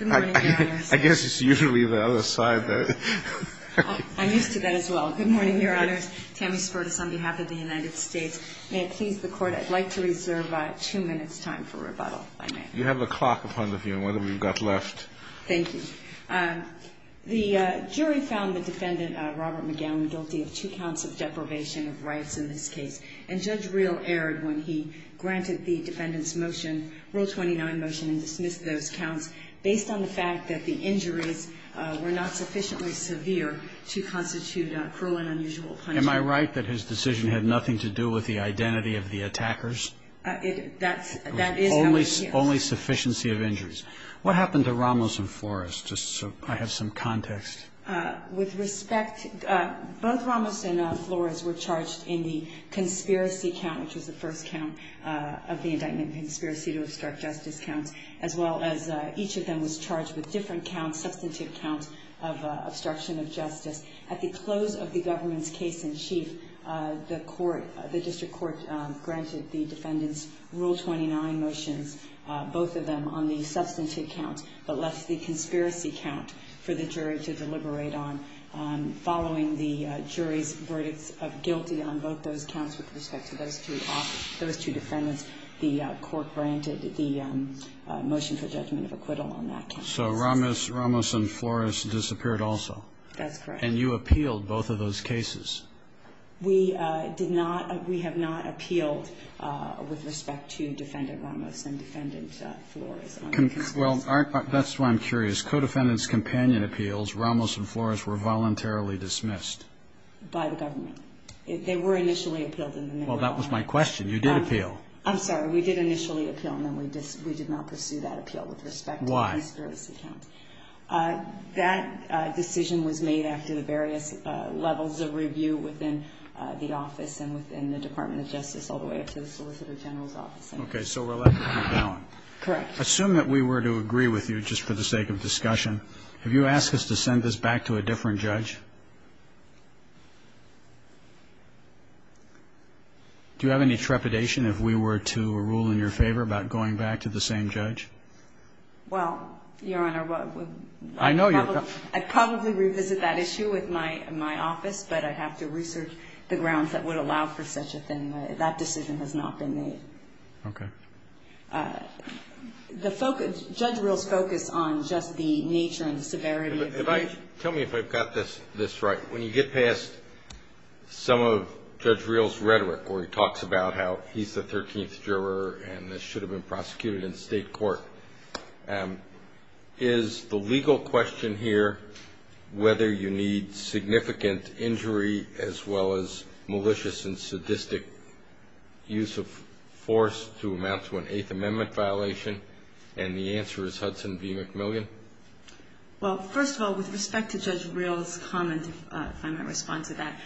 on behalf of the United States. May it please the Court, I'd like to reserve two minutes time for rebuttal, if I may. You have a clock upon the view, and one that we've got left. Thank you. The jury found the defendant, Robert McGowan, guilty of two counts of deprivation of rights in this case, and Judge Real erred when he granted the defendant's motion, Rule 29 motion, and dismissed those counts, based on the fact that the injuries were not sufficiently severe to constitute cruel and unusual punishment. Am I right that his decision had nothing to do with the identity of the attackers? That is how it appears. Only sufficiency of injuries. What happened to Ramos and Flores? Just so I have some context. With respect, both Ramos and Flores were charged in the conspiracy count, which was the first count of the indictment conspiracy to obstruct justice count, as well as each of them was charged with different counts, substantive counts, of obstruction of justice. At the close of the government's case in chief, the court, the district court, granted the defendant's Rule 29 motions, both of them on the substantive count, but left the conspiracy count for the jury to deliberate on, following the jury's verdict of guilty on both those counts with respect to those two defendants, the court granted the motion for judgment of acquittal on that count. So Ramos and Flores disappeared also? That's correct. And you appealed both of those cases? We did not, we have not appealed with respect to Defendant Ramos and Defendant Flores. Well, that's why I'm curious. Codefendant's companion appeals, Ramos and Flores, were voluntarily dismissed? By the government. They were initially appealed in the middle of all that. Well, that was my question. You did appeal. I'm sorry, we did initially appeal, and then we did not pursue that appeal with respect to the conspiracy count. Why? That decision was made after the various levels of review within the office and within the Department of Justice all the way up to the Solicitor General's office. Okay, so we're allowed to come down. Correct. Assume that we were to agree with you just for the sake of discussion. Have you asked us to send this back to a different judge? Do you have any trepidation if we were to rule in your favor about going back to the same judge? Well, Your Honor, I'd probably revisit that issue with my office, but I'd have to research the grounds that would allow for such a thing. That decision has not been made. Okay. Judge Reel's focus on just the nature and severity of the case. Tell me if I've got this right. When you get past some of Judge Reel's rhetoric where he talks about how he's the 13th juror and this should have been prosecuted in state court, is the legal question here whether you need significant injury as well as malicious and sadistic use of force to amount to an Eighth Amendment violation? And the answer is Hudson v. McMillian? Well, first of all, with respect to Judge Reel's comment, if I might respond to that,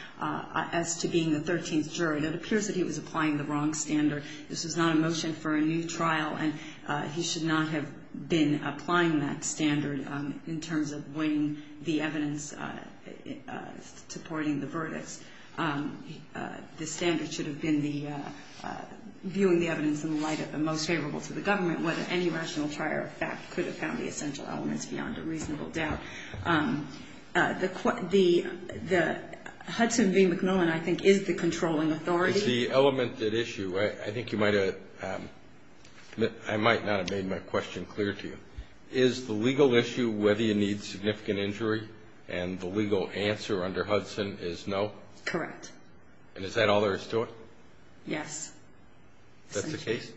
as to being the 13th juror, it appears that he was applying the wrong standard. This was not a motion for a new trial, and he should not have been applying that standard in terms of weighing the evidence supporting the verdicts. The standard should have been viewing the evidence in light of the most favorable to the government, whether any rational trial or fact could have found the essential elements beyond a reasonable doubt. The Hudson v. McMillian, I think, is the controlling authority. It's the element at issue. I think you might have ‑‑ I might not have made my question clear to you. Is the legal issue whether you need significant injury and the legal answer under Hudson is no? Correct. And is that all there is to it? Yes. That's the case?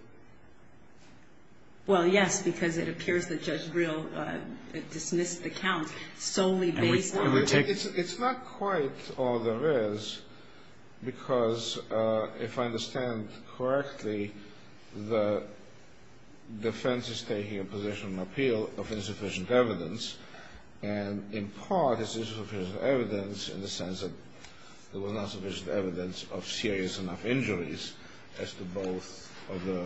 Well, yes, because it appears that Judge Reel dismissed the count solely based on ‑‑ It's not quite all there is, because if I understand correctly, the defense is taking a position of appeal of insufficient evidence, and in part it's insufficient evidence in the sense that there was not sufficient evidence of serious enough injuries as to both of the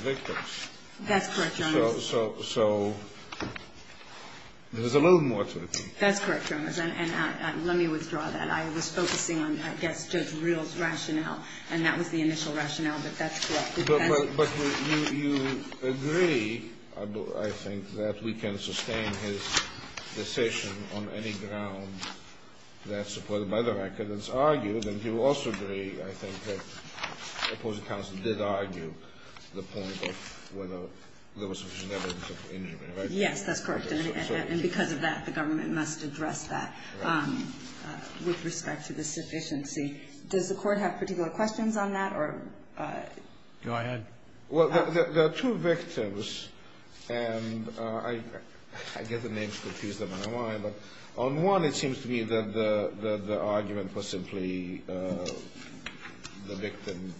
victims. That's correct, Your Honor. So there's a little more to it. That's correct, Your Honor. And let me withdraw that. I was focusing on, I guess, Judge Reel's rationale, and that was the initial rationale, but that's correct. But you agree, I think, that we can sustain his decision on any ground that's supported by the record. It's argued, and you also agree, I think, that the opposing counsel did argue the point of whether there was sufficient evidence of injury, right? Yes, that's correct. And because of that, the government must address that with respect to the sufficiency. Does the Court have particular questions on that? Go ahead. Well, there are two victims, and I get the names confused, I don't know why, but on one it seems to me that the argument was simply the victim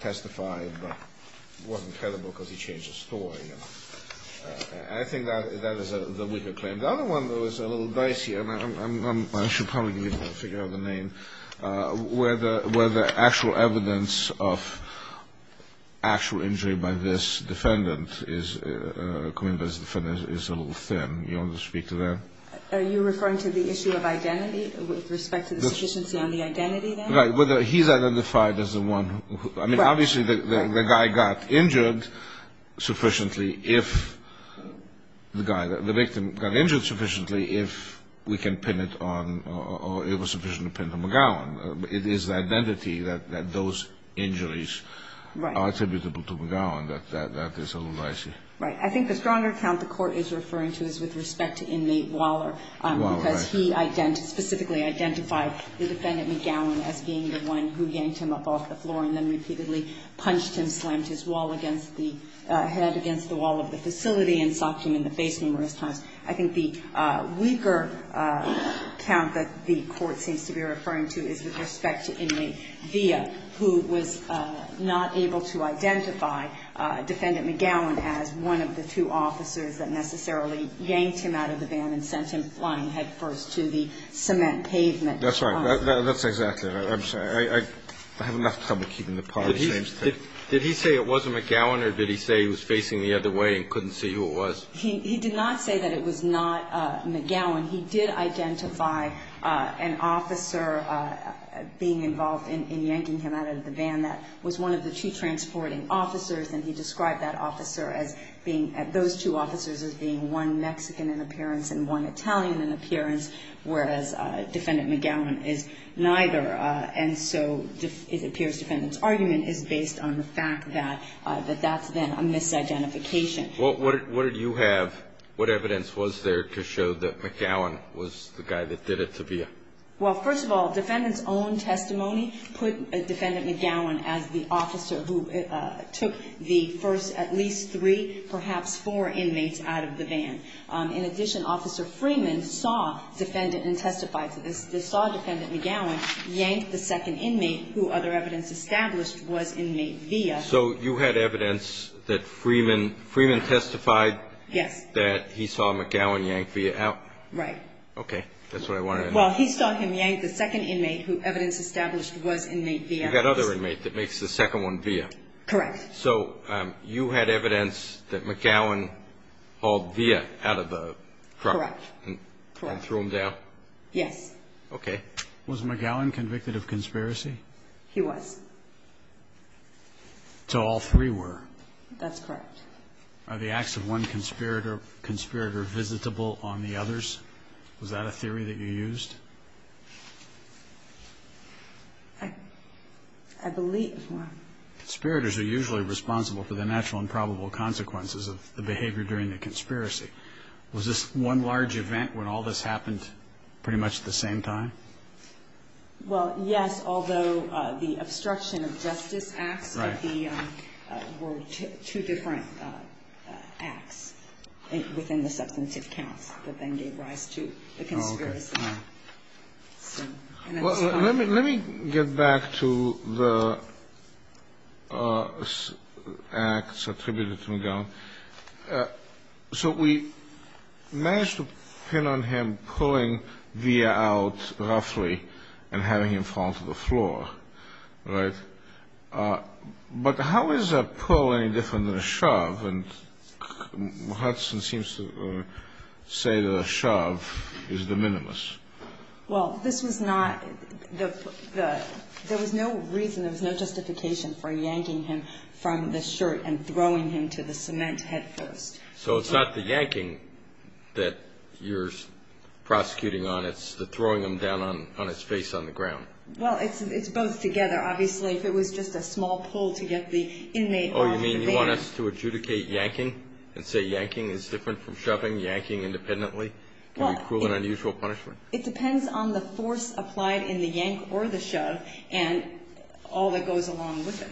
testified, but it wasn't credible because he changed his story. And I think that is the weaker claim. The other one, though, is a little dicier, and I should probably figure out the name, where the actual evidence of actual injury by this defendant is a little thin. Do you want to speak to that? Are you referring to the issue of identity with respect to the sufficiency on the identity there? Right. Whether he's identified as the one who, I mean, obviously the guy got injured sufficiently if the guy, the victim got injured sufficiently if we can pin it on or it was sufficient to pin it on McGowan. It is the identity that those injuries are attributable to McGowan that is a little dicier. Right. I think the stronger account the Court is referring to is with respect to inmate because he specifically identified the defendant McGowan as being the one who yanked him up off the floor and then repeatedly punched him, slammed his head against the wall of the facility and socked him in the face numerous times. I think the weaker account that the Court seems to be referring to is with respect to inmate Villa, who was not able to identify defendant McGowan as one of the two transporting officers and he described that officer as being, those two officers as And the other one was the one who was in the car with the victim and sent him flying headfirst to the cement pavement. That's right. That's exactly right. I'm sorry. I have enough trouble keeping the part of the same story. Did he say it was McGowan or did he say he was facing the other way and couldn't see who it was? He did not say that it was not McGowan. He did identify an officer being involved in yanking him out of the van that was one of the two transporting officers and he described that officer as being, those two officers as being one Mexican in appearance and one Italian in appearance, whereas defendant McGowan is neither. And so it appears defendant's argument is based on the fact that that's then a misidentification. What did you have, what evidence was there to show that McGowan was the guy that did it to Villa? Well, first of all, defendant's own testimony put defendant McGowan as the officer who took the first at least three, perhaps four inmates out of the van. In addition, officer Freeman saw defendant and testified to this, saw defendant McGowan yank the second inmate who other evidence established was inmate Villa. So you had evidence that Freeman testified that he saw McGowan yank Villa out? Right. Okay, that's what I wanted to know. Well, he saw him yank the second inmate who evidence established was inmate Villa. You got other inmate that makes the second one Villa? Correct. So you had evidence that McGowan hauled Villa out of the truck and threw him down? Yes. Okay. Was McGowan convicted of conspiracy? He was. So all three were? That's correct. Are the acts of one conspirator visitable on the others? Was that a theory that you used? I believe one. Conspirators are usually responsible for the natural and probable consequences of the behavior during the conspiracy. Was this one large event when all this happened pretty much at the same time? Well, yes, although the obstruction of justice acts were two different acts within the substantive counts that then gave rise to the conspiracy. Let me get back to the acts attributed to McGowan. So we managed to pin on him pulling Villa out roughly and having him fall to the floor, right? But how is a pull any different than a shove? And Hudson seems to say that a shove is the minimus. Well, this was not the – there was no reason, there was no justification for yanking him from the shirt and throwing him to the cement head first. So it's not the yanking that you're prosecuting on. It's the throwing him down on his face on the ground. Well, it's both together. Obviously, if it was just a small pull to get the inmate on the band. Oh, you mean you want us to adjudicate yanking and say yanking is different from shoving, yanking independently can be cruel and unusual punishment? It depends on the force applied in the yank or the shove and all that goes along with it.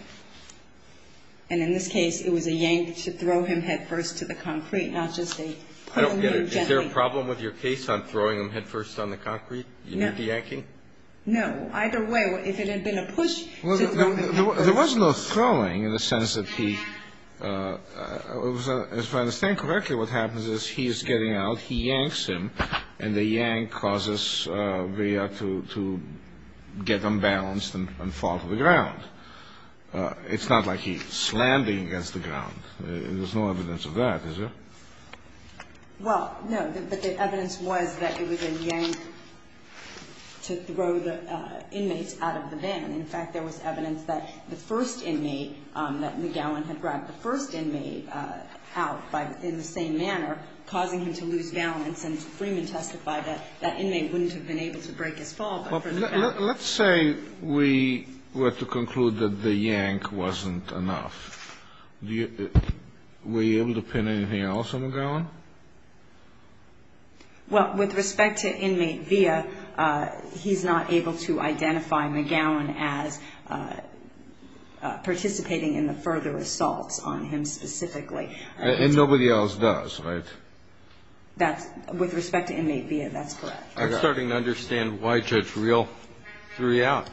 And in this case, it was a yank to throw him head first to the concrete, not just a pull him in gently. I don't get it. Is there a problem with your case on throwing him head first on the concrete? No. You mean the yanking? No. Either way, if it had been a push to throw him head first. There was no throwing in the sense that he – if I understand correctly, what happens is he is getting out, he yanks him, and the yank causes Virya to get unbalanced and fall to the ground. It's not like he's slamming against the ground. There's no evidence of that, is there? Well, no. But the evidence was that it was a yank to throw the inmates out of the band. In fact, there was evidence that the first inmate, that McGowan had dragged the first inmate out in the same manner, causing him to lose balance. And Freeman testified that that inmate wouldn't have been able to break his fall. Let's say we were to conclude that the yank wasn't enough. Were you able to pin anything else on McGowan? Well, with respect to inmate Virya, he's not able to identify McGowan as participating in the further assaults on him specifically. And nobody else does, right? With respect to inmate Virya, that's correct. I'm starting to understand why Judge Reel threw you out.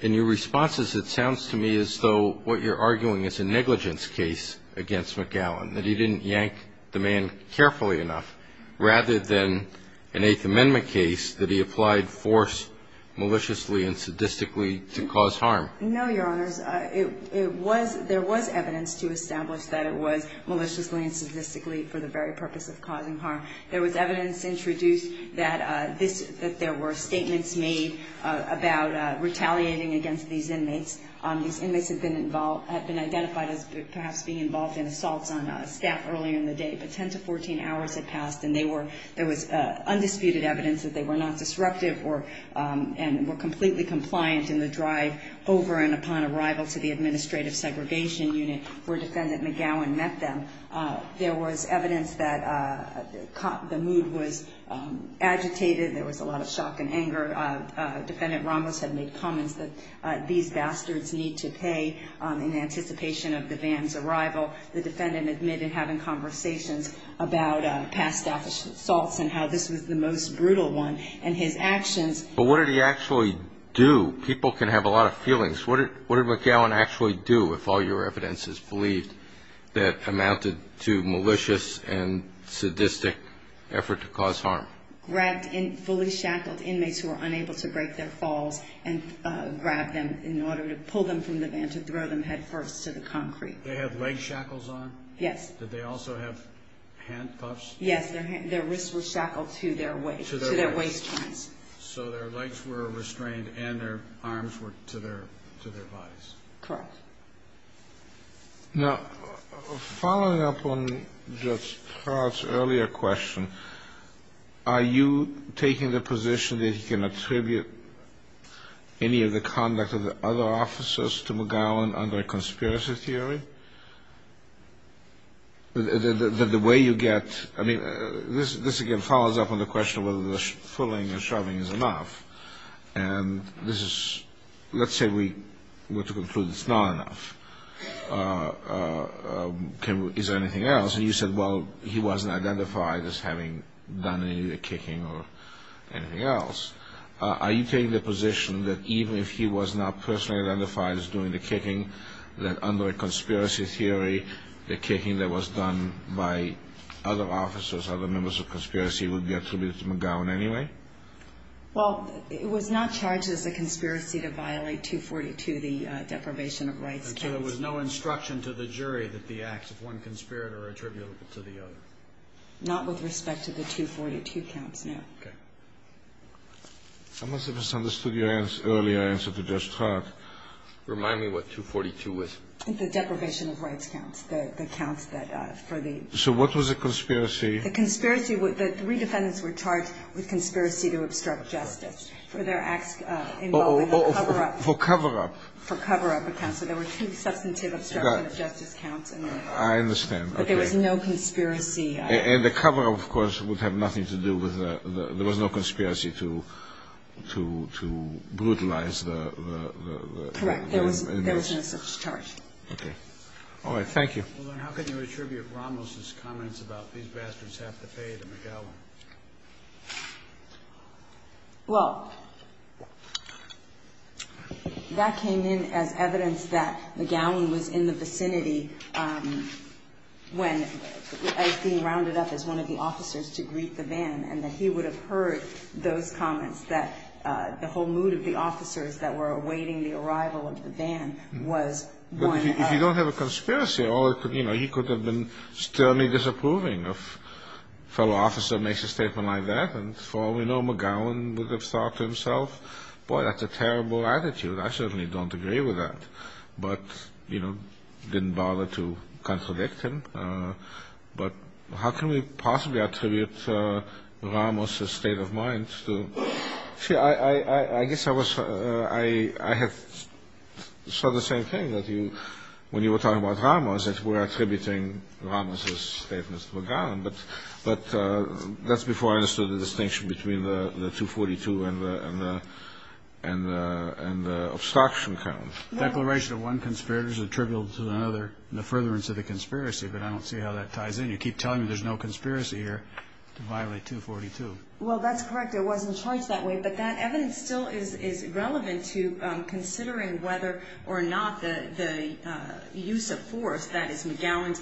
In your responses, it sounds to me as though what you're arguing is a negligence case against McGowan, that he didn't yank the man carefully enough, rather than an Eighth Amendment case that he applied force maliciously and sadistically to cause harm. No, Your Honors. There was evidence to establish that it was maliciously and sadistically for the very purpose of causing harm. There was evidence introduced that there were statements made about retaliating against these inmates. These inmates had been identified as perhaps being involved in assaults on staff earlier in the day. But 10 to 14 hours had passed, and there was undisputed evidence that they were not disruptive and were completely compliant in the drive over and upon arrival to the administrative segregation unit where Defendant McGowan met them. There was evidence that the mood was agitated. There was a lot of shock and anger. Defendant Ramos had made comments that these bastards need to pay in anticipation of the van's arrival. The defendant admitted having conversations about past staff assaults and how this was the most brutal one, and his actions. But what did he actually do? People can have a lot of feelings. What did McGowan actually do, if all your evidence is believed, that amounted to malicious and sadistic effort to cause harm? He grabbed fully shackled inmates who were unable to break their falls and grabbed them in order to pull them from the van to throw them headfirst to the concrete. They had leg shackles on? Yes. Did they also have handcuffs? Yes, their wrists were shackled to their waist joints. So their legs were restrained and their arms were to their bodies. Correct. Now, following up on just Todd's earlier question, are you taking the position that he can attribute any of the conduct of the other officers to McGowan under a conspiracy theory? That the way you get, I mean, this again follows up on the question of whether the fulling and shoving is enough. And this is, let's say we were to conclude it's not enough. Is there anything else? And you said, well, he wasn't identified as having done any of the kicking or anything else. Are you taking the position that even if he was not personally identified as doing the kicking, that under a conspiracy theory, the kicking that was done by other officers, other members of conspiracy, would be attributed to McGowan anyway? Well, it was not charged as a conspiracy to violate 242, the deprivation of rights. So there was no instruction to the jury that the acts of one conspirator are attributable to the other? Not with respect to the 242 counts, no. Okay. I must have misunderstood your earlier answer to just Todd. Remind me what 242 was. The deprivation of rights counts, the counts that for the. So what was the conspiracy? The three defendants were charged with conspiracy to obstruct justice for their acts. For cover-up. For cover-up. For cover-up accounts. So there were two substantive obstruction of justice counts. I understand. But there was no conspiracy. And the cover-up, of course, would have nothing to do with the. There was no conspiracy to brutalize the. Correct. There was no such charge. Okay. All right. Thank you. How can you attribute Ramos' comments about these bastards have to pay to McGowan? Well, that came in as evidence that McGowan was in the vicinity when, as being rounded up as one of the officers to greet the van, and that he would have heard those comments that the whole mood of the officers that were awaiting the arrival of the van was. If you don't have a conspiracy, you know, he could have been sternly disapproving of fellow officer makes a statement like that. And for all we know, McGowan would have thought to himself, boy, that's a terrible attitude. I certainly don't agree with that. But, you know, didn't bother to contradict him. But how can we possibly attribute Ramos' state of mind to. Sure. I guess I was. I saw the same thing that you when you were talking about Ramos, that we're attributing Ramos' statements to McGowan. But that's before I understood the distinction between the 242 and the obstruction count. Declaration of one conspirator is attributable to another in the furtherance of the conspiracy. But I don't see how that ties in. You keep telling me there's no conspiracy here to violate 242. Well, that's correct. It wasn't charged that way. But that evidence still is relevant to considering whether or not the use of force, that is, McGowan's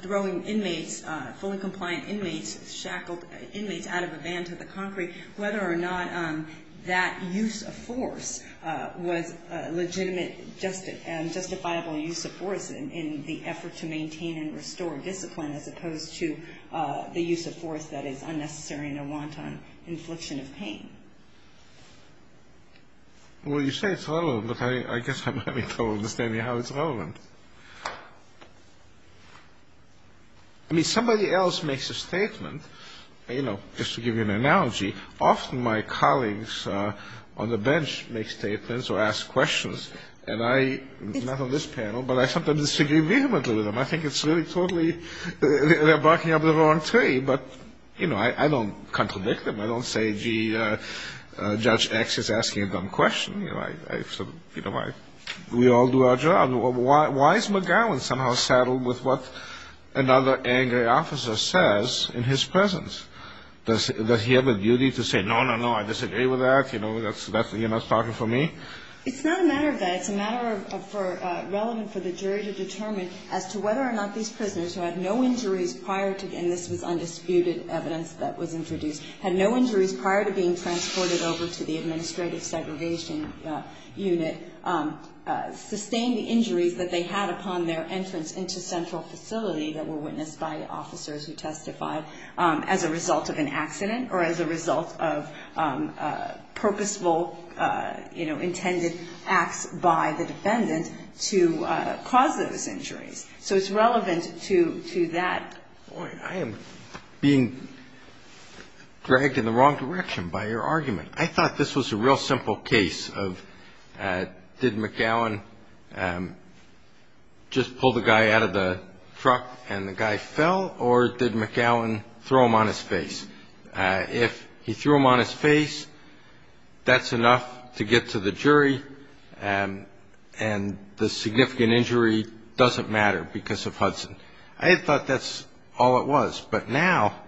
throwing inmates, fully compliant inmates, shackled inmates out of a van to the concrete, whether or not that use of force was a legitimate and justifiable use of force in the effort to maintain and restore discipline as opposed to the use of force that is unnecessary and a wanton infliction of pain. Well, you say it's relevant, but I guess I'm having trouble understanding how it's relevant. I mean, somebody else makes a statement. You know, just to give you an analogy, often my colleagues on the bench make statements or ask questions. And I, not on this panel, but I sometimes disagree vehemently with them. I think it's really totally they're barking up the wrong tree. But, you know, I don't contradict them. I don't say, gee, Judge X is asking a dumb question. You know, we all do our job. Why is McGowan somehow saddled with what another angry officer says in his presence? Does he have a duty to say, no, no, no, I disagree with that? You know, you're not talking for me? It's not a matter of that. It's a matter relevant for the jury to determine as to whether or not these prisoners, who had no injuries prior to, and this was undisputed evidence that was introduced, had no injuries prior to being transported over to the administrative segregation unit, sustained the injuries that they had upon their entrance into central facility that were witnessed by officers who testified as a result of an accident or as a result of purposeful, you know, intended acts by the defendant to cause those injuries. So it's relevant to that point. I am being dragged in the wrong direction by your argument. I thought this was a real simple case of did McGowan just pull the guy out of the truck and the guy fell or did McGowan throw him on his face? If he threw him on his face, that's enough to get to the jury and the significant injury doesn't matter because of Hudson. I thought that's all it was. But now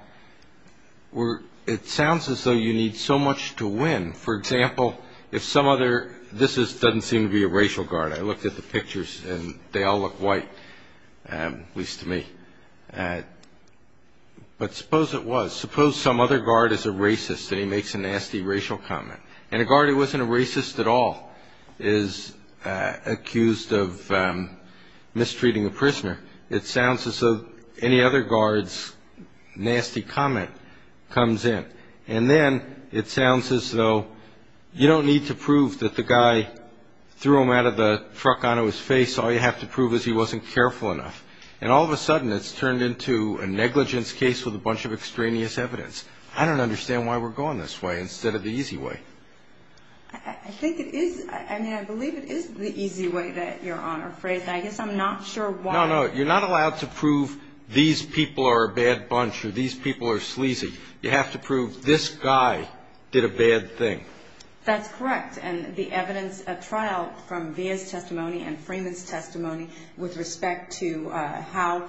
it sounds as though you need so much to win. For example, if some other, this doesn't seem to be a racial guard. I looked at the pictures and they all look white, at least to me. But suppose it was. Suppose some other guard is a racist and he makes a nasty racial comment. And a guard who wasn't a racist at all is accused of mistreating a prisoner. It sounds as though any other guard's nasty comment comes in. And then it sounds as though you don't need to prove that the guy threw him out of the truck onto his face. All you have to prove is he wasn't careful enough. And all of a sudden it's turned into a negligence case with a bunch of extraneous evidence. I don't understand why we're going this way instead of the easy way. I think it is. I mean, I believe it is the easy way, Your Honor. I guess I'm not sure why. No, no, you're not allowed to prove these people are a bad bunch or these people are sleazy. You have to prove this guy did a bad thing. That's correct. And the evidence at trial from Villa's testimony and Freeman's testimony with respect to how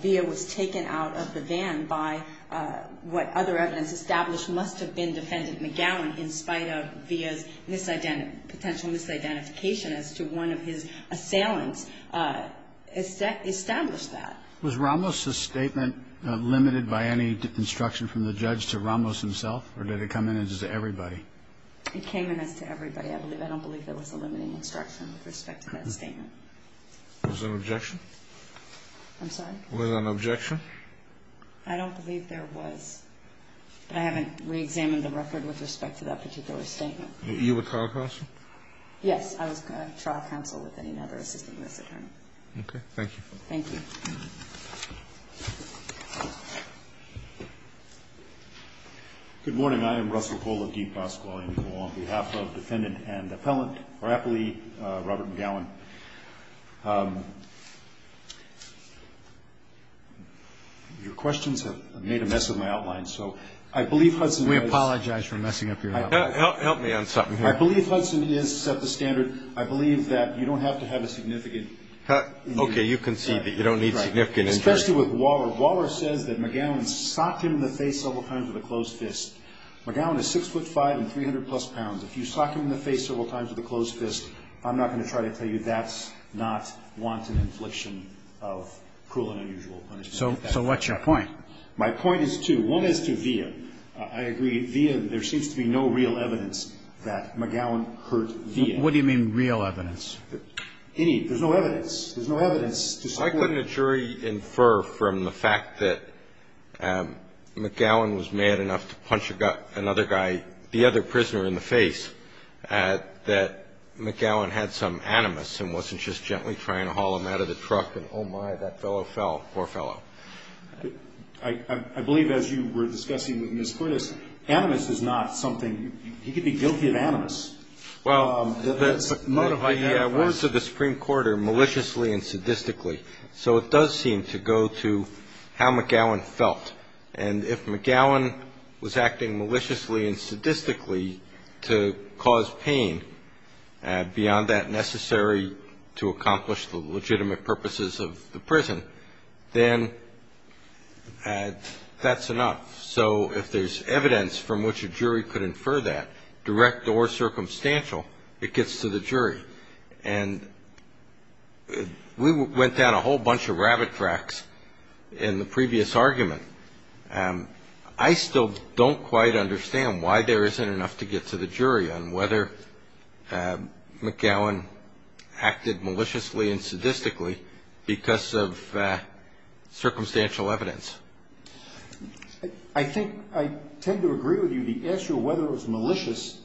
Villa was taken out of the van by what other evidence established must have been Defendant McGowan in spite of Villa's potential misidentification as to one of his assailants established that. Was Ramos's statement limited by any instruction from the judge to Ramos himself? Or did it come in as to everybody? It came in as to everybody. I don't believe there was a limiting instruction with respect to that statement. Was there an objection? I'm sorry? Was there an objection? I don't believe there was. I haven't reexamined the record with respect to that particular statement. Were you a trial counsel? Yes, I was a trial counsel with another assistant U.S. attorney. Okay. Thank you. Thank you. Good morning. I am Russell Cole of D.C. Law School. On behalf of Defendant and Appellant for Appley, Robert McGowan. Your questions have made a mess of my outline, so I believe Hudson is – We apologize for messing up your outline. Help me on something here. I believe Hudson has set the standard. I believe that you don't have to have a significant – Okay. You concede that you don't need significant injury. Especially with Waller. Waller says that McGowan socked him in the face several times with a closed fist. McGowan is 6'5 and 300-plus pounds. If you sock him in the face several times with a closed fist, I'm not going to try to tell you that's not wanton infliction of cruel and unusual punishment. So what's your point? My point is two. One is to Villa. I agree. Villa, there seems to be no real evidence that McGowan hurt Villa. What do you mean real evidence? Any. There's no evidence. There's no evidence to support – I couldn't at jury infer from the fact that McGowan was mad enough to punch another guy, the other prisoner in the face, that McGowan had some animus and wasn't just gently trying to haul him out of the truck and, oh, my, that fellow fell. Poor fellow. I believe as you were discussing with Ms. Curtis, animus is not something – he could be guilty of animus. Well, the words of the Supreme Court are maliciously and sadistically. So it does seem to go to how McGowan felt. And if McGowan was acting maliciously and sadistically to cause pain, beyond that necessary to accomplish the legitimate purposes of the prison, then that's enough. So if there's evidence from which a jury could infer that, direct or circumstantial, it gets to the jury. And we went down a whole bunch of rabbit tracks in the previous argument. I still don't quite understand why there isn't enough to get to the jury on whether McGowan acted maliciously and sadistically because of circumstantial evidence. I think I tend to agree with you. The issue of whether it was malicious,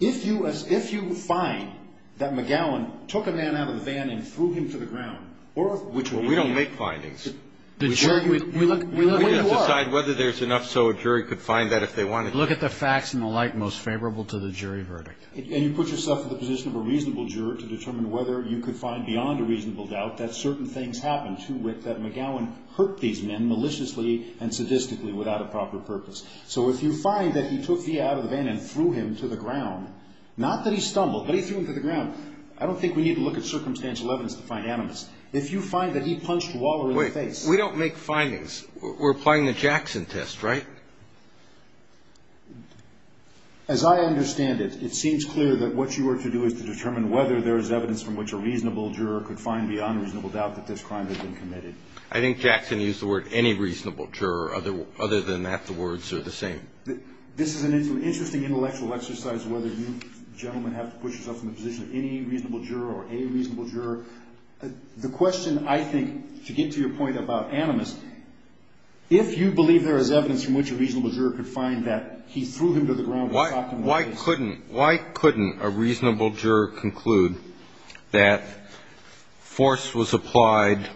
if you find that McGowan took a man out of the van and threw him to the ground or – We don't make findings. We look where you are. We have to decide whether there's enough so a jury could find that if they wanted to. We look at the facts in the light most favorable to the jury verdict. And you put yourself in the position of a reasonable juror to determine whether you could find beyond a reasonable doubt that certain things happened to wit that McGowan hurt these men maliciously and sadistically without a proper purpose. So if you find that he took the out of the van and threw him to the ground, not that he stumbled, but he threw him to the ground, I don't think we need to look at circumstantial evidence to find animus. If you find that he punched Waller in the face – You're applying the Jackson test, right? As I understand it, it seems clear that what you are to do is to determine whether there is evidence from which a reasonable juror could find beyond a reasonable doubt that this crime had been committed. I think Jackson used the word any reasonable juror. Other than that, the words are the same. This is an interesting intellectual exercise, whether you gentlemen have to push yourself in the position of any reasonable juror or a reasonable juror. The question, I think, to get to your point about animus, if you believe there is evidence from which a reasonable juror could find that he threw him to the ground and shocked him in the face – Why couldn't a reasonable juror conclude that force was applied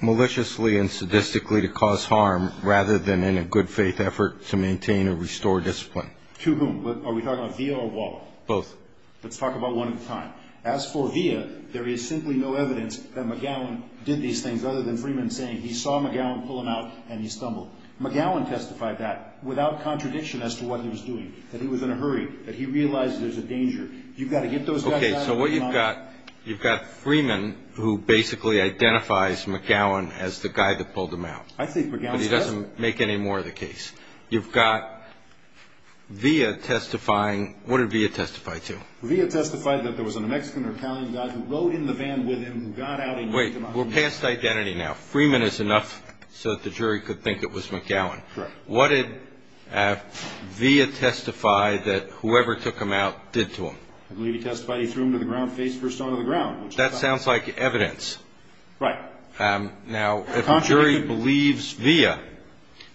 maliciously and sadistically to cause harm rather than in a good faith effort to maintain or restore discipline? To whom? Are we talking about Villa or Waller? Both. Let's talk about one at a time. As for Villa, there is simply no evidence that McGowan did these things other than Freeman saying he saw McGowan pull him out and he stumbled. McGowan testified that without contradiction as to what he was doing, that he was in a hurry, that he realized there's a danger. You've got to get those guys out of the line. Okay. So what you've got, you've got Freeman who basically identifies McGowan as the guy that pulled him out. I think McGowan's right. But he doesn't make any more of the case. You've got Villa testifying – what did Villa testify to? Villa testified that there was a New Mexican or Italian guy who rode in the van with him who got out and – Wait. We're past identity now. Freeman is enough so that the jury could think it was McGowan. Correct. What did Villa testify that whoever took him out did to him? I believe he testified he threw him to the ground, face first onto the ground. That sounds like evidence. Right. Now, if a jury believes Villa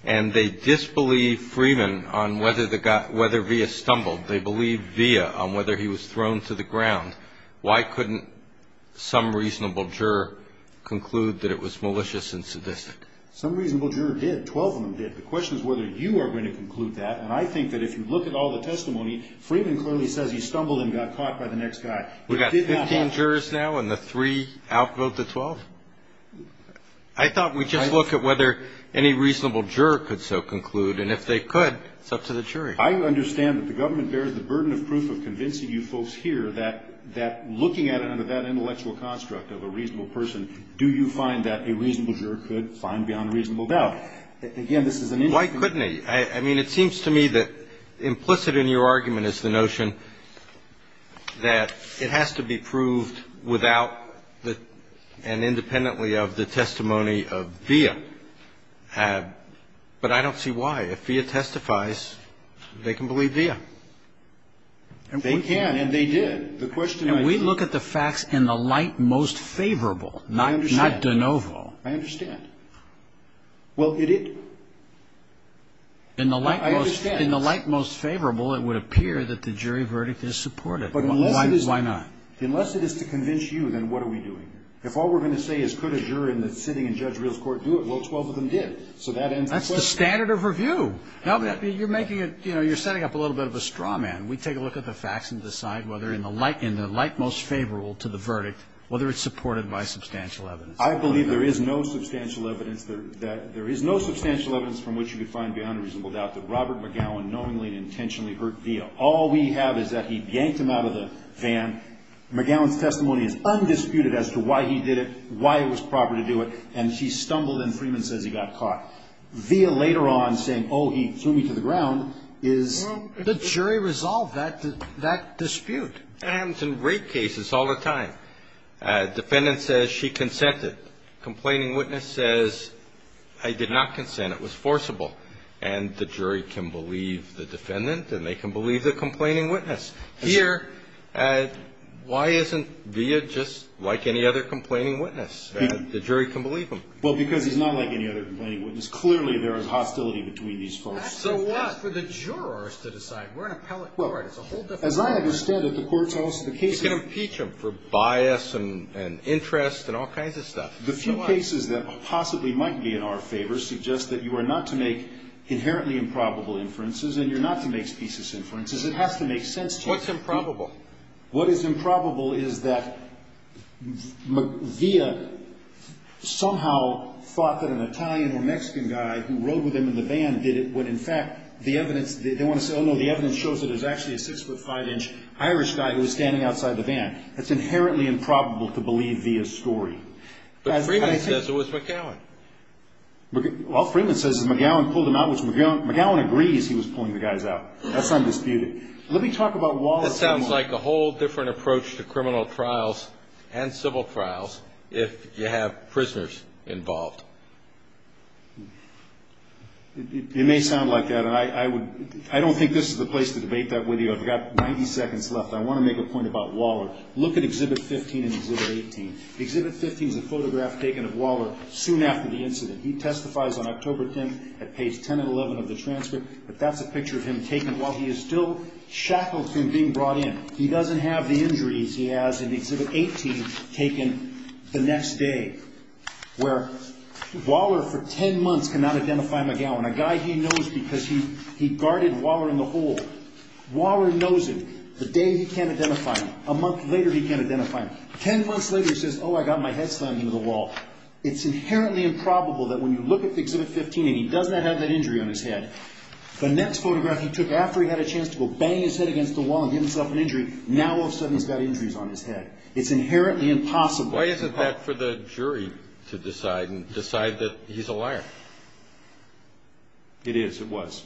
and they disbelieve Freeman on whether Villa stumbled, they believe Villa on whether he was thrown to the ground, why couldn't some reasonable juror conclude that it was malicious and sadistic? Some reasonable juror did. Twelve of them did. The question is whether you are going to conclude that. And I think that if you look at all the testimony, Freeman clearly says he stumbled and got caught by the next guy. We've got 15 jurors now and the three outvote the 12? I thought we'd just look at whether any reasonable juror could so conclude. And if they could, it's up to the jury. I understand that the government bears the burden of proof of convincing you folks here that looking at it under that intellectual construct of a reasonable person, do you find that a reasonable juror could find beyond reasonable doubt? Again, this is an individual. Why couldn't he? I mean, it seems to me that implicit in your argument is the notion that it has to be proved without and independently of the testimony of Villa. But I don't see why. If Villa testifies, they can believe Villa. They can and they did. The question is we look at the facts in the light most favorable, not de novo. I understand. Well, it is. In the light most favorable, it would appear that the jury verdict is supported. Why not? Unless it is to convince you, then what are we doing? If all we're going to say is could a juror sitting in Judge Reel's court do it, well, 12 of them did. So that ends the question. That's the standard of review. You're setting up a little bit of a straw man. We take a look at the facts and decide whether in the light most favorable to the verdict, whether it's supported by substantial evidence. I believe there is no substantial evidence. There is no substantial evidence from which you could find beyond reasonable doubt that Robert McGowan knowingly and intentionally hurt Villa. All we have is that he yanked him out of the van. And McGowan's testimony is undisputed as to why he did it, why it was proper to do it. And she stumbled and Freeman says he got caught. Villa later on saying, oh, he threw me to the ground, is ---- Well, the jury resolved that dispute. And in rape cases all the time. Defendant says she consented. Complaining witness says I did not consent, it was forcible. And the jury can believe the defendant and they can believe the complaining witness. Here, why isn't Villa just like any other complaining witness? The jury can believe him. Well, because he's not like any other complaining witness. Clearly there is hostility between these folks. So what? That's for the jurors to decide. We're an appellate court. It's a whole different thing. As I understand it, the courts also ---- You can impeach him for bias and interest and all kinds of stuff. The few cases that possibly might be in our favor suggest that you are not to make inherently improbable inferences and you're not to make specious inferences. It has to make sense to you. What's improbable? What is improbable is that Villa somehow thought that an Italian or Mexican guy who rode with him in the van did it when in fact the evidence ---- they want to say, oh, no, the evidence shows that it was actually a 6 foot 5 inch Irish guy who was standing outside the van. That's inherently improbable to believe Villa's story. But Freeman says it was McGowan. Well, Freeman says McGowan pulled him out, which McGowan agrees he was pulling the guys out. That's undisputed. Let me talk about Waller. That sounds like a whole different approach to criminal trials and civil trials if you have prisoners involved. It may sound like that. I don't think this is the place to debate that with you. I've got 90 seconds left. I want to make a point about Waller. Look at Exhibit 15 and Exhibit 18. Exhibit 15 is a photograph taken of Waller soon after the incident. He testifies on October 10th at page 10 and 11 of the transcript. But that's a picture of him taken while he is still shackled to him being brought in. He doesn't have the injuries he has in Exhibit 18 taken the next day, where Waller for 10 months cannot identify McGowan, a guy he knows because he guarded Waller in the hole. Waller knows him. The day he can't identify him. A month later he can't identify him. Ten months later he says, oh, I got my head slammed into the wall. It's inherently improbable that when you look at Exhibit 15 and he does not have that injury on his head, the next photograph he took after he had a chance to go bang his head against the wall and get himself an injury, now all of a sudden he's got injuries on his head. It's inherently impossible. Why isn't that for the jury to decide and decide that he's a liar? It is. It was.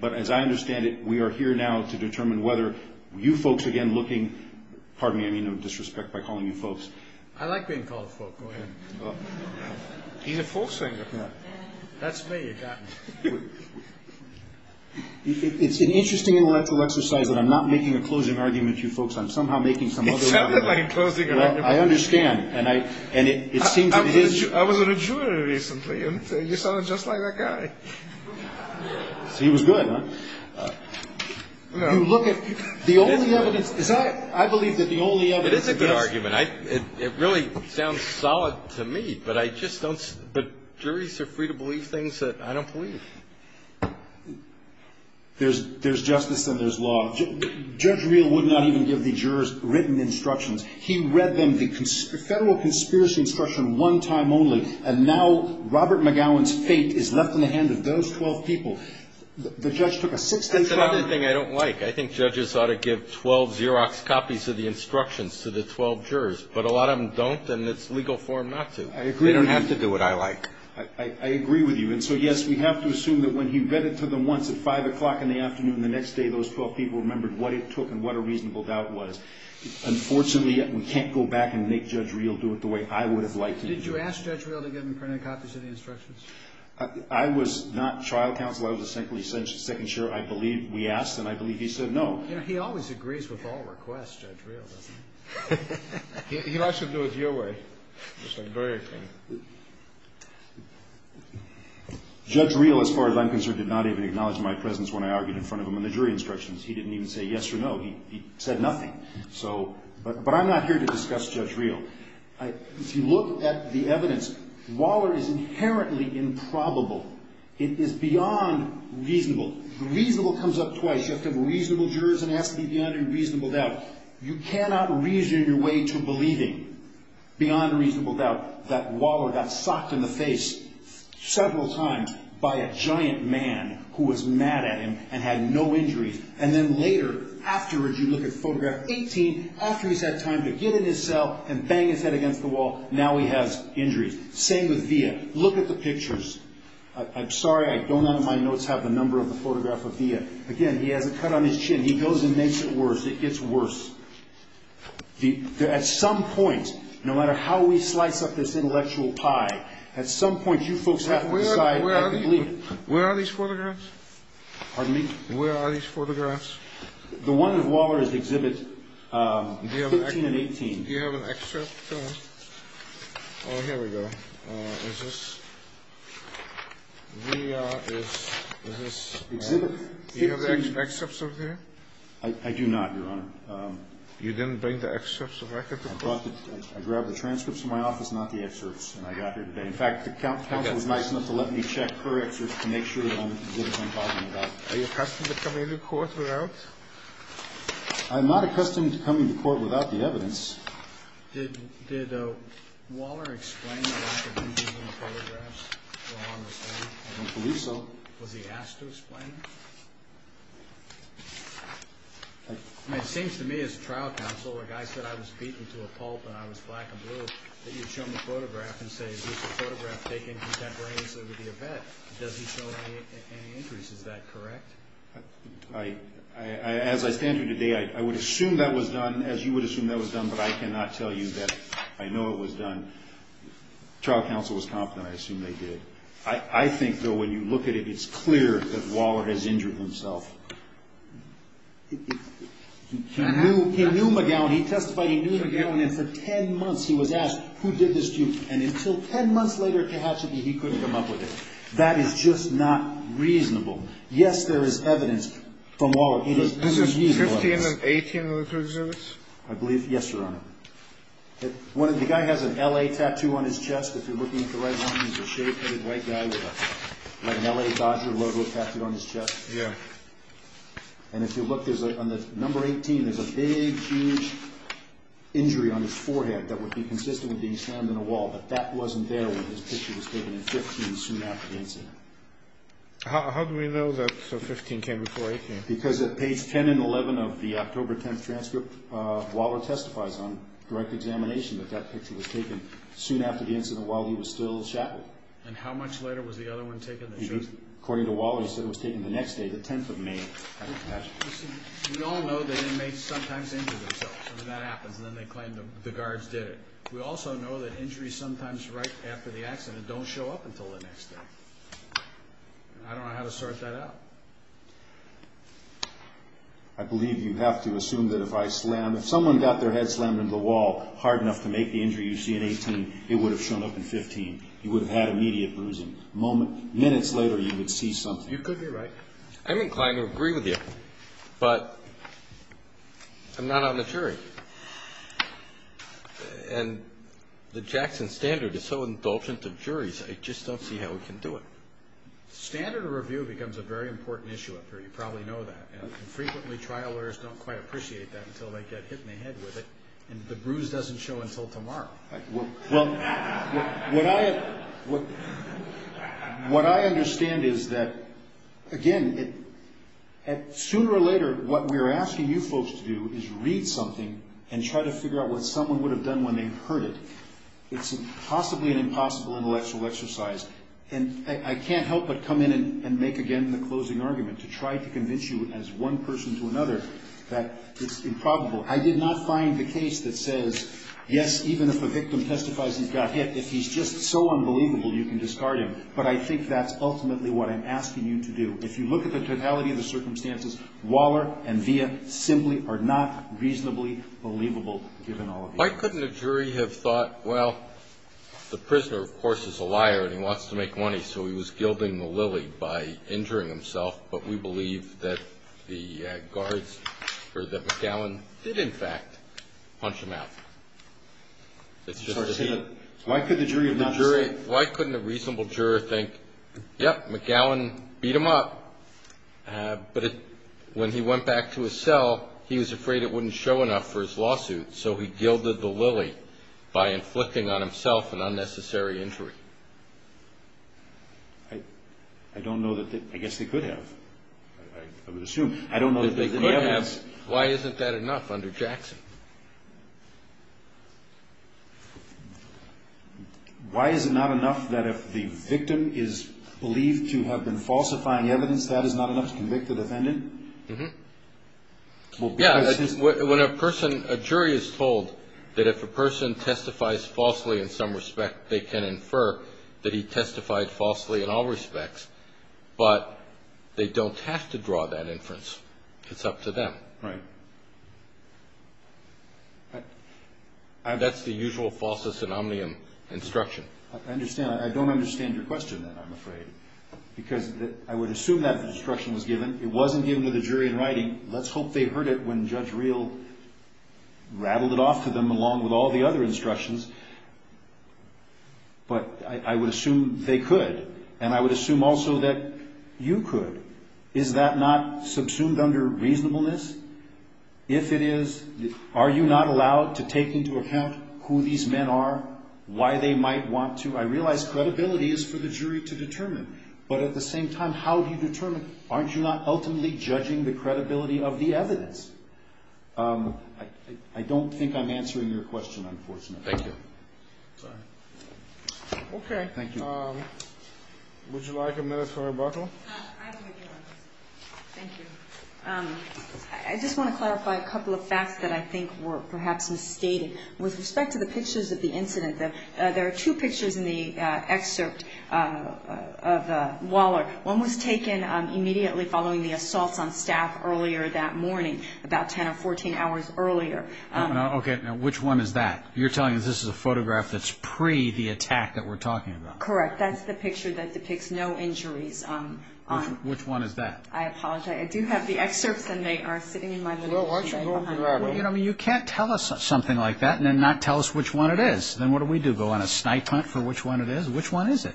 But as I understand it, we are here now to determine whether you folks again looking, pardon me, I mean no disrespect by calling you folks. I like being called folk. Go ahead. He's a folk singer. That's me. It's an interesting intellectual exercise that I'm not making a closing argument to you folks. I'm somehow making some other argument. It sounded like a closing argument. I understand. I was at a jury recently, and you sounded just like that guy. So he was good, huh? No. Look, the only evidence, I believe that the only evidence is this. It is a good argument. It really sounds solid to me, but I just don't, but juries are free to believe things that I don't believe. There's justice and there's law. Judge Reel would not even give the jurors written instructions. He read them, the federal conspiracy instruction, one time only, and now Robert McGowan's fate is left in the hands of those 12 people. The judge took a six-day trial. That's another thing I don't like. I think judges ought to give 12 Xerox copies of the instructions to the 12 jurors, but a lot of them don't, and it's legal for them not to. I agree with you. They don't have to do what I like. I agree with you. And so, yes, we have to assume that when he read it to them once at 5 o'clock in the afternoon, the next day those 12 people remembered what it took and what a reasonable doubt was. Unfortunately, we can't go back and make Judge Reel do it the way I would have liked him to do it. Did you ask Judge Reel to give him printed copies of the instructions? I was not trial counsel. I was a second jury. I believe we asked, and I believe he said no. He always agrees with all requests, Judge Reel, doesn't he? He likes to do it your way. He's very open. Judge Reel, as far as I'm concerned, did not even acknowledge my presence when I argued in front of him on the jury instructions. He didn't even say yes or no. He said nothing. But I'm not here to discuss Judge Reel. If you look at the evidence, Waller is inherently improbable. It is beyond reasonable. Reasonable comes up twice. You have to have reasonable jurors and it has to be beyond a reasonable doubt. You cannot reason your way to believing beyond a reasonable doubt that Waller got socked in the face several times by a giant man who was mad at him and had no injuries, and then later, afterwards, you look at photograph 18, after he's had time to get in his cell and bang his head against the wall, now he has injuries. Same with Villa. Look at the pictures. I'm sorry I don't on my notes have the number of the photograph of Villa. Again, he has a cut on his chin. He goes and makes it worse. It gets worse. At some point, no matter how we slice up this intellectual pie, at some point you folks have to decide. Where are these photographs? Pardon me? Where are these photographs? The one with Waller is exhibit 15 and 18. Do you have an excerpt? Oh, here we go. Is this Villa? Is this? Exhibit 15. Do you have the excerpts over there? I do not, Your Honor. You didn't bring the excerpts of record to court? I grabbed the transcripts from my office, not the excerpts, and I got here today. In fact, the counsel was nice enough to let me check her excerpts to make sure that I'm getting what I'm talking about. Are you accustomed to coming to court without? I'm not accustomed to coming to court without the evidence. Did Waller explain the lack of interest in the photographs? I don't believe so. Was he asked to explain them? I mean, it seems to me, as a trial counsel, where a guy said I was beaten to a pulp and I was black and blue, that you'd show him a photograph and say, Is this a photograph taken contemporaneously with the event? Does he show any interest? Is that correct? As I stand here today, I would assume that was done, as you would assume that was done, but I cannot tell you that I know it was done. Trial counsel was confident. I assume they did. I think, though, when you look at it, it's clear that Waller has injured himself. He knew McGowan. He testified he knew McGowan, and for 10 months he was asked, Who did this to you? And until 10 months later, he couldn't come up with it. That is just not reasonable. Yes, there is evidence from Waller. This is 15 and 18 of the three exhibits? I believe, yes, Your Honor. The guy has an L.A. tattoo on his chest. If you're looking at the right one, he's a shaved-headed white guy with an L.A. Dodger logo tattooed on his chest. Yeah. And if you look, on the number 18, there's a big, huge injury on his forehead that would be consistent with being slammed in a wall, but that wasn't there when this picture was taken in 15, soon after the incident. How do we know that 15 came before 18? Because at page 10 and 11 of the October 10th transcript, Waller testifies on direct examination that that picture was taken soon after the incident while he was still shackled. And how much later was the other one taken? According to Waller, he said it was taken the next day, the 10th of May. We all know that inmates sometimes injure themselves, and that happens, and then they claim the guards did it. We also know that injuries sometimes right after the accident don't show up until the next day. I don't know how to sort that out. I believe you have to assume that if someone got their head slammed into the wall hard enough to make the injury you see in 18, it would have shown up in 15. You would have had immediate bruising. Minutes later, you would see something. You could be right. I'm inclined to agree with you, but I'm not on the jury. And the Jackson standard is so indulgent of juries, I just don't see how we can do it. Standard review becomes a very important issue up here. You probably know that. And frequently, trial lawyers don't quite appreciate that until they get hit in the head with it, and the bruise doesn't show until tomorrow. Well, what I understand is that, again, sooner or later, what we're asking you folks to do is read something and try to figure out what someone would have done when they heard it. It's possibly an impossible intellectual exercise, and I can't help but come in and make again the closing argument to try to convince you as one person to another that it's improbable. I did not find the case that says, yes, even if a victim testifies he's got hit, if he's just so unbelievable, you can discard him. But I think that's ultimately what I'm asking you to do. If you look at the totality of the circumstances, Waller and Villa simply are not reasonably believable, given all of the evidence. Why couldn't a jury have thought, well, the prisoner, of course, is a liar, and he wants to make money, so he was gilding the lily by injuring himself. But we believe that McGowan did, in fact, punch him out. Why couldn't a reasonable juror think, yep, McGowan beat him up, but when he went back to his cell, he was afraid it wouldn't show enough for his lawsuit, so he gilded the lily by inflicting on himself an unnecessary injury. I don't know that they – I guess they could have. I would assume. I don't know that they could have. Why isn't that enough under Jackson? Why is it not enough that if the victim is believed to have been falsifying evidence, that is not enough to convict the defendant? Yeah. When a person – a jury is told that if a person testifies falsely in some respect, they can infer that he testified falsely in all respects, but they don't have to draw that inference. It's up to them. Right. That's the usual falsest and omnium instruction. I understand. I don't understand your question, then, I'm afraid, because I would assume that the instruction was given. It wasn't given to the jury in writing. Let's hope they heard it when Judge Reel rattled it off to them along with all the other instructions, but I would assume they could, and I would assume also that you could. Is that not subsumed under reasonableness? If it is, are you not allowed to take into account who these men are, why they might want to? I realize credibility is for the jury to determine, but at the same time, how do you determine? Aren't you not ultimately judging the credibility of the evidence? I don't think I'm answering your question, unfortunately. Thank you. Okay. Thank you. Would you like a minute for rebuttal? Thank you. I just want to clarify a couple of facts that I think were perhaps misstated. With respect to the pictures of the incident, there are two pictures in the excerpt of Waller. One was taken immediately following the assaults on staff earlier that morning, about 10 or 14 hours earlier. Okay. Now, which one is that? You're telling us this is a photograph that's pre the attack that we're talking about? Correct. That's the picture that depicts no injuries. Which one is that? I apologize. I do have the excerpts, and they are sitting in my little sheet. Why don't you go with the rabbit? You can't tell us something like that and then not tell us which one it is. Then what do we do, go on a snipe hunt for which one it is? Which one is it?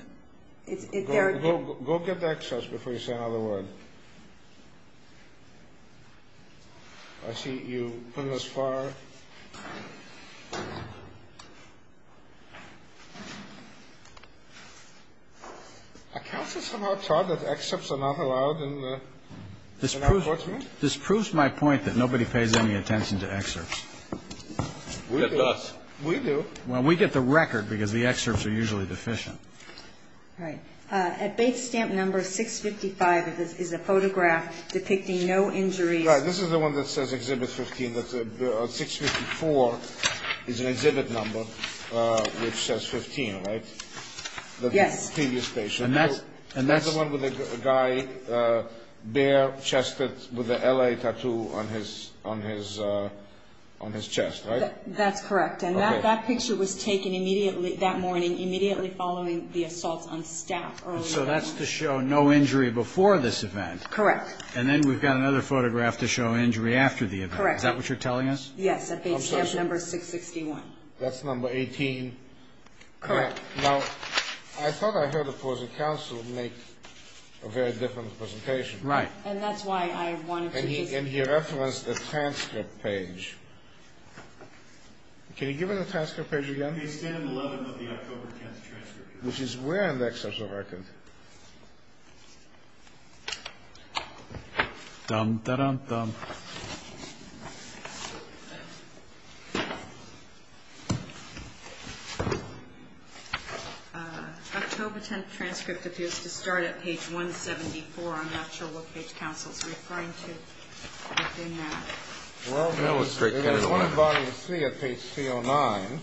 Go get the excerpts before you say another word. I see you've come this far. Are counsels somehow taught that excerpts are not allowed in our courts? This proves my point that nobody pays any attention to excerpts. We do. We do. Well, we get the record because the excerpts are usually deficient. All right. At base stamp number 655 is a photograph depicting no injuries. This is the one that says exhibit 15. 654 is an exhibit number which says 15, right? Yes. The previous page. And that's the one with the guy bare-chested with the LA tattoo on his chest, right? That's correct. Okay. And that picture was taken immediately that morning, immediately following the assault on staff earlier that morning. So that's to show no injury before this event. Correct. And then we've got another photograph to show injury after the event. Correct. Is that what you're telling us? Yes, at base stamp number 661. That's number 18. Correct. Now, I thought I heard opposing counsel make a very different presentation. Right. And that's why I wanted to use it. And he referenced the transcript page. Can you give me the transcript page again? Base stamp 11 of the October 10th transcript. Which is where on that section of the record? October 10th transcript appears to start at page 174. I'm not sure what page counsel is referring to within that. Well, there's one in volume 3 at page 309.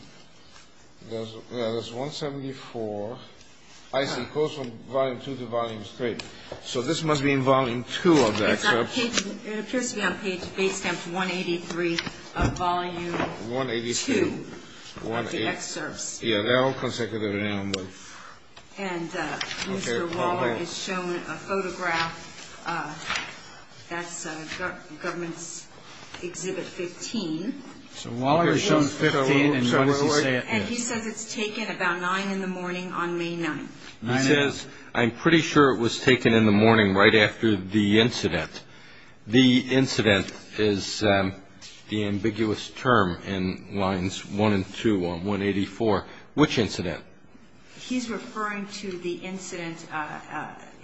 There's 174. I see. It goes from volume 2 to volume 3. So this must be in volume 2 of the excerpts. It appears to be on page, base stamp 183 of volume 2 of the excerpts. Yeah, they're all consecutive. And Mr. Waller has shown a photograph. That's government's exhibit 15. Mr. Waller has shown 15, and what does he say it is? And he says it's taken about 9 in the morning on May 9th. He says, I'm pretty sure it was taken in the morning right after the incident. The incident is the ambiguous term in lines 1 and 2 on 184. Which incident? He's referring to the incident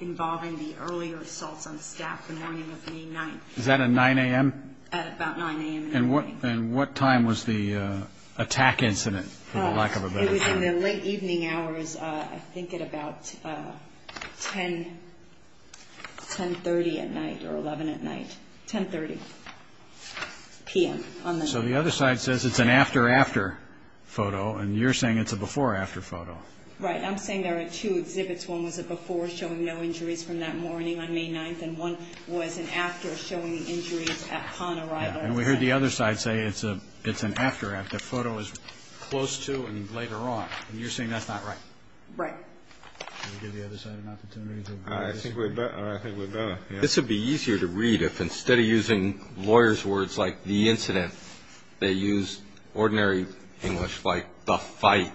involving the earlier assaults on staff the morning of May 9th. Is that at 9 a.m.? At about 9 a.m. in the morning. And what time was the attack incident, for the lack of a better term? It was in the late evening hours, I think at about 10, 10.30 at night or 11 at night. 10.30 p.m. on the night. So the other side says it's an after-after photo, and you're saying it's a before-after photo. Right. I'm saying there are two exhibits. One was a before showing no injuries from that morning on May 9th, and one was an after showing the injuries at Pond Arrival. And we heard the other side say it's an after, the photo is close to and later on. And you're saying that's not right? Right. Can we give the other side an opportunity to review this? I think we're better. This would be easier to read if instead of using lawyers' words like the incident, they used ordinary English like the fight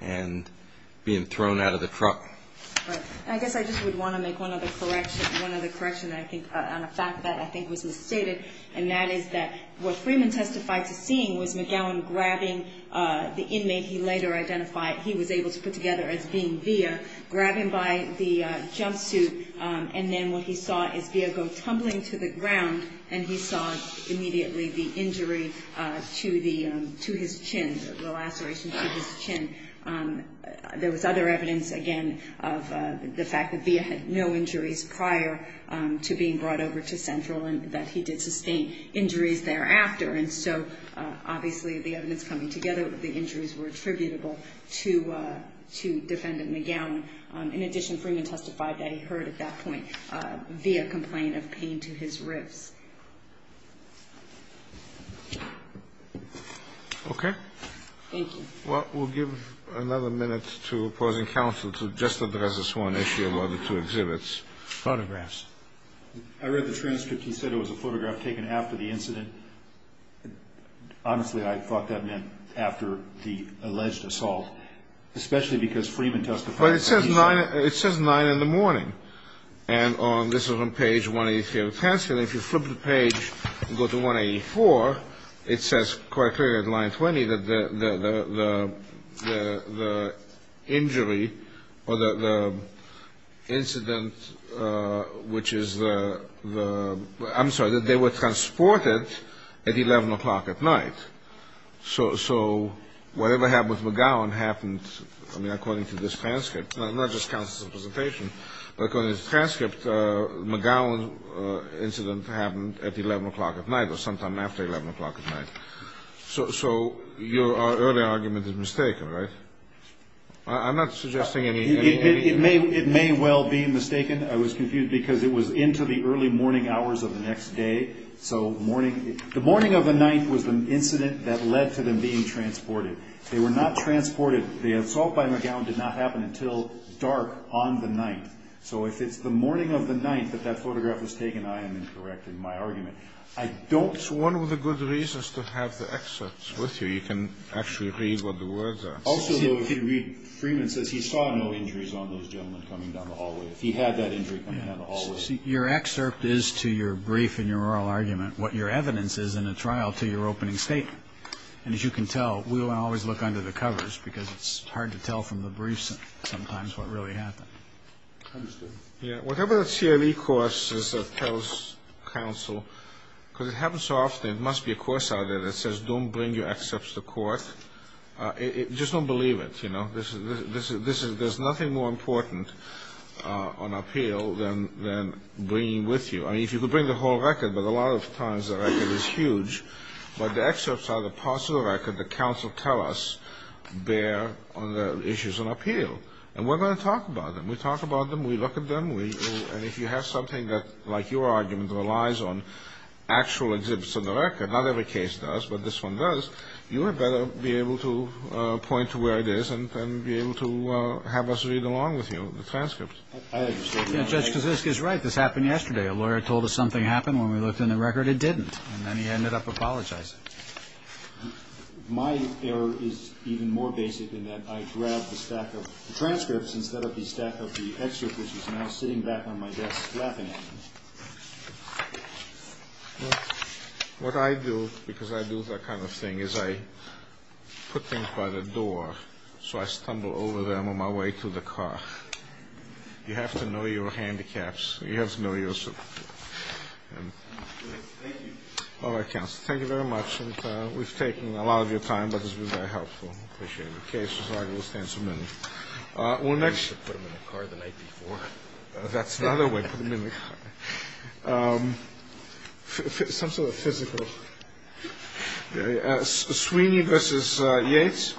and being thrown out of the truck. Right. I guess I just would want to make one other correction on a fact that I think was misstated, and that is that what Freeman testified to seeing was McGowan grabbing the inmate he later identified he was able to put together as being Villa, grabbing by the jumpsuit, and then what he saw is Villa go tumbling to the ground, and he saw immediately the injury to his chin, the lacerations to his chin. There was other evidence, again, of the fact that Villa had no injuries prior to being brought over to Central and that he did sustain injuries thereafter. And so obviously the evidence coming together with the injuries were attributable to Defendant McGowan. In addition, Freeman testified that he heard at that point Villa complain of pain to his ribs. Okay. Thank you. Well, we'll give another minute to opposing counsel to just address this one issue about the two exhibits. Photographs. I read the transcript. He said it was a photograph taken after the incident. Honestly, I thought that meant after the alleged assault, especially because Freeman testified. But it says 9 in the morning. And this is on page 183 of the transcript, and if you flip the page and go to 184, it says quite clearly at line 20 that the injury or the incident, which is the ‑‑ I'm sorry, that they were transported at 11 o'clock at night. So whatever happened with McGowan happened, I mean, according to this transcript, not just counsel's presentation, but according to the transcript, McGowan's incident happened at 11 o'clock at night or sometime after 11 o'clock at night. So your earlier argument is mistaken, right? I'm not suggesting any ‑‑ It may well be mistaken. I was confused because it was into the early morning hours of the next day. So the morning of the night was the incident that led to them being transported. They were not transported. The assault by McGowan did not happen until dark on the night. So if it's the morning of the night that that photograph was taken, I am incorrect in my argument. I don't ‑‑ It's one of the good reasons to have the excerpts with you. You can actually read what the words are. Also, though, if you read, Freeman says he saw no injuries on those gentlemen coming down the hallway. If he had that injury coming down the hallway. See, your excerpt is to your brief and your oral argument what your evidence is in a trial to your opening statement. And as you can tell, we don't always look under the covers because it's hard to tell from the briefs sometimes what really happened. I understand. Yeah, whatever the CLE course is that tells counsel, because it happens so often it must be a course out there that says don't bring your excerpts to court. Just don't believe it, you know. There's nothing more important on appeal than bringing it with you. I mean, if you could bring the whole record, but a lot of times the record is huge. But the excerpts are the parts of the record that counsel tell us bear on the issues on appeal. And we're going to talk about them. We talk about them. We look at them. And if you have something that, like your argument, relies on actual exhibits on the record, not every case does, but this one does, you had better be able to point to where it is and be able to have us read along with you the transcript. I understand. Judge Kosinska is right. This happened yesterday. A lawyer told us something happened when we looked in the record. It didn't. And then he ended up apologizing. My error is even more basic in that I grabbed the stack of transcripts instead of the stack of the excerpt, which is now sitting back on my desk laughing at me. What I do, because I do that kind of thing, is I put things by the door so I stumble over them on my way to the car. You have to know your handicaps. You have to know your superfluous. All right, counsel. Thank you very much. And we've taken a lot of your time, but this has been very helpful. I appreciate it. Okay, so I will stand some minutes. Well, next. You should put them in the car the night before. That's the other way. Put them in the car. Some sort of physical. Sweeney versus Yates.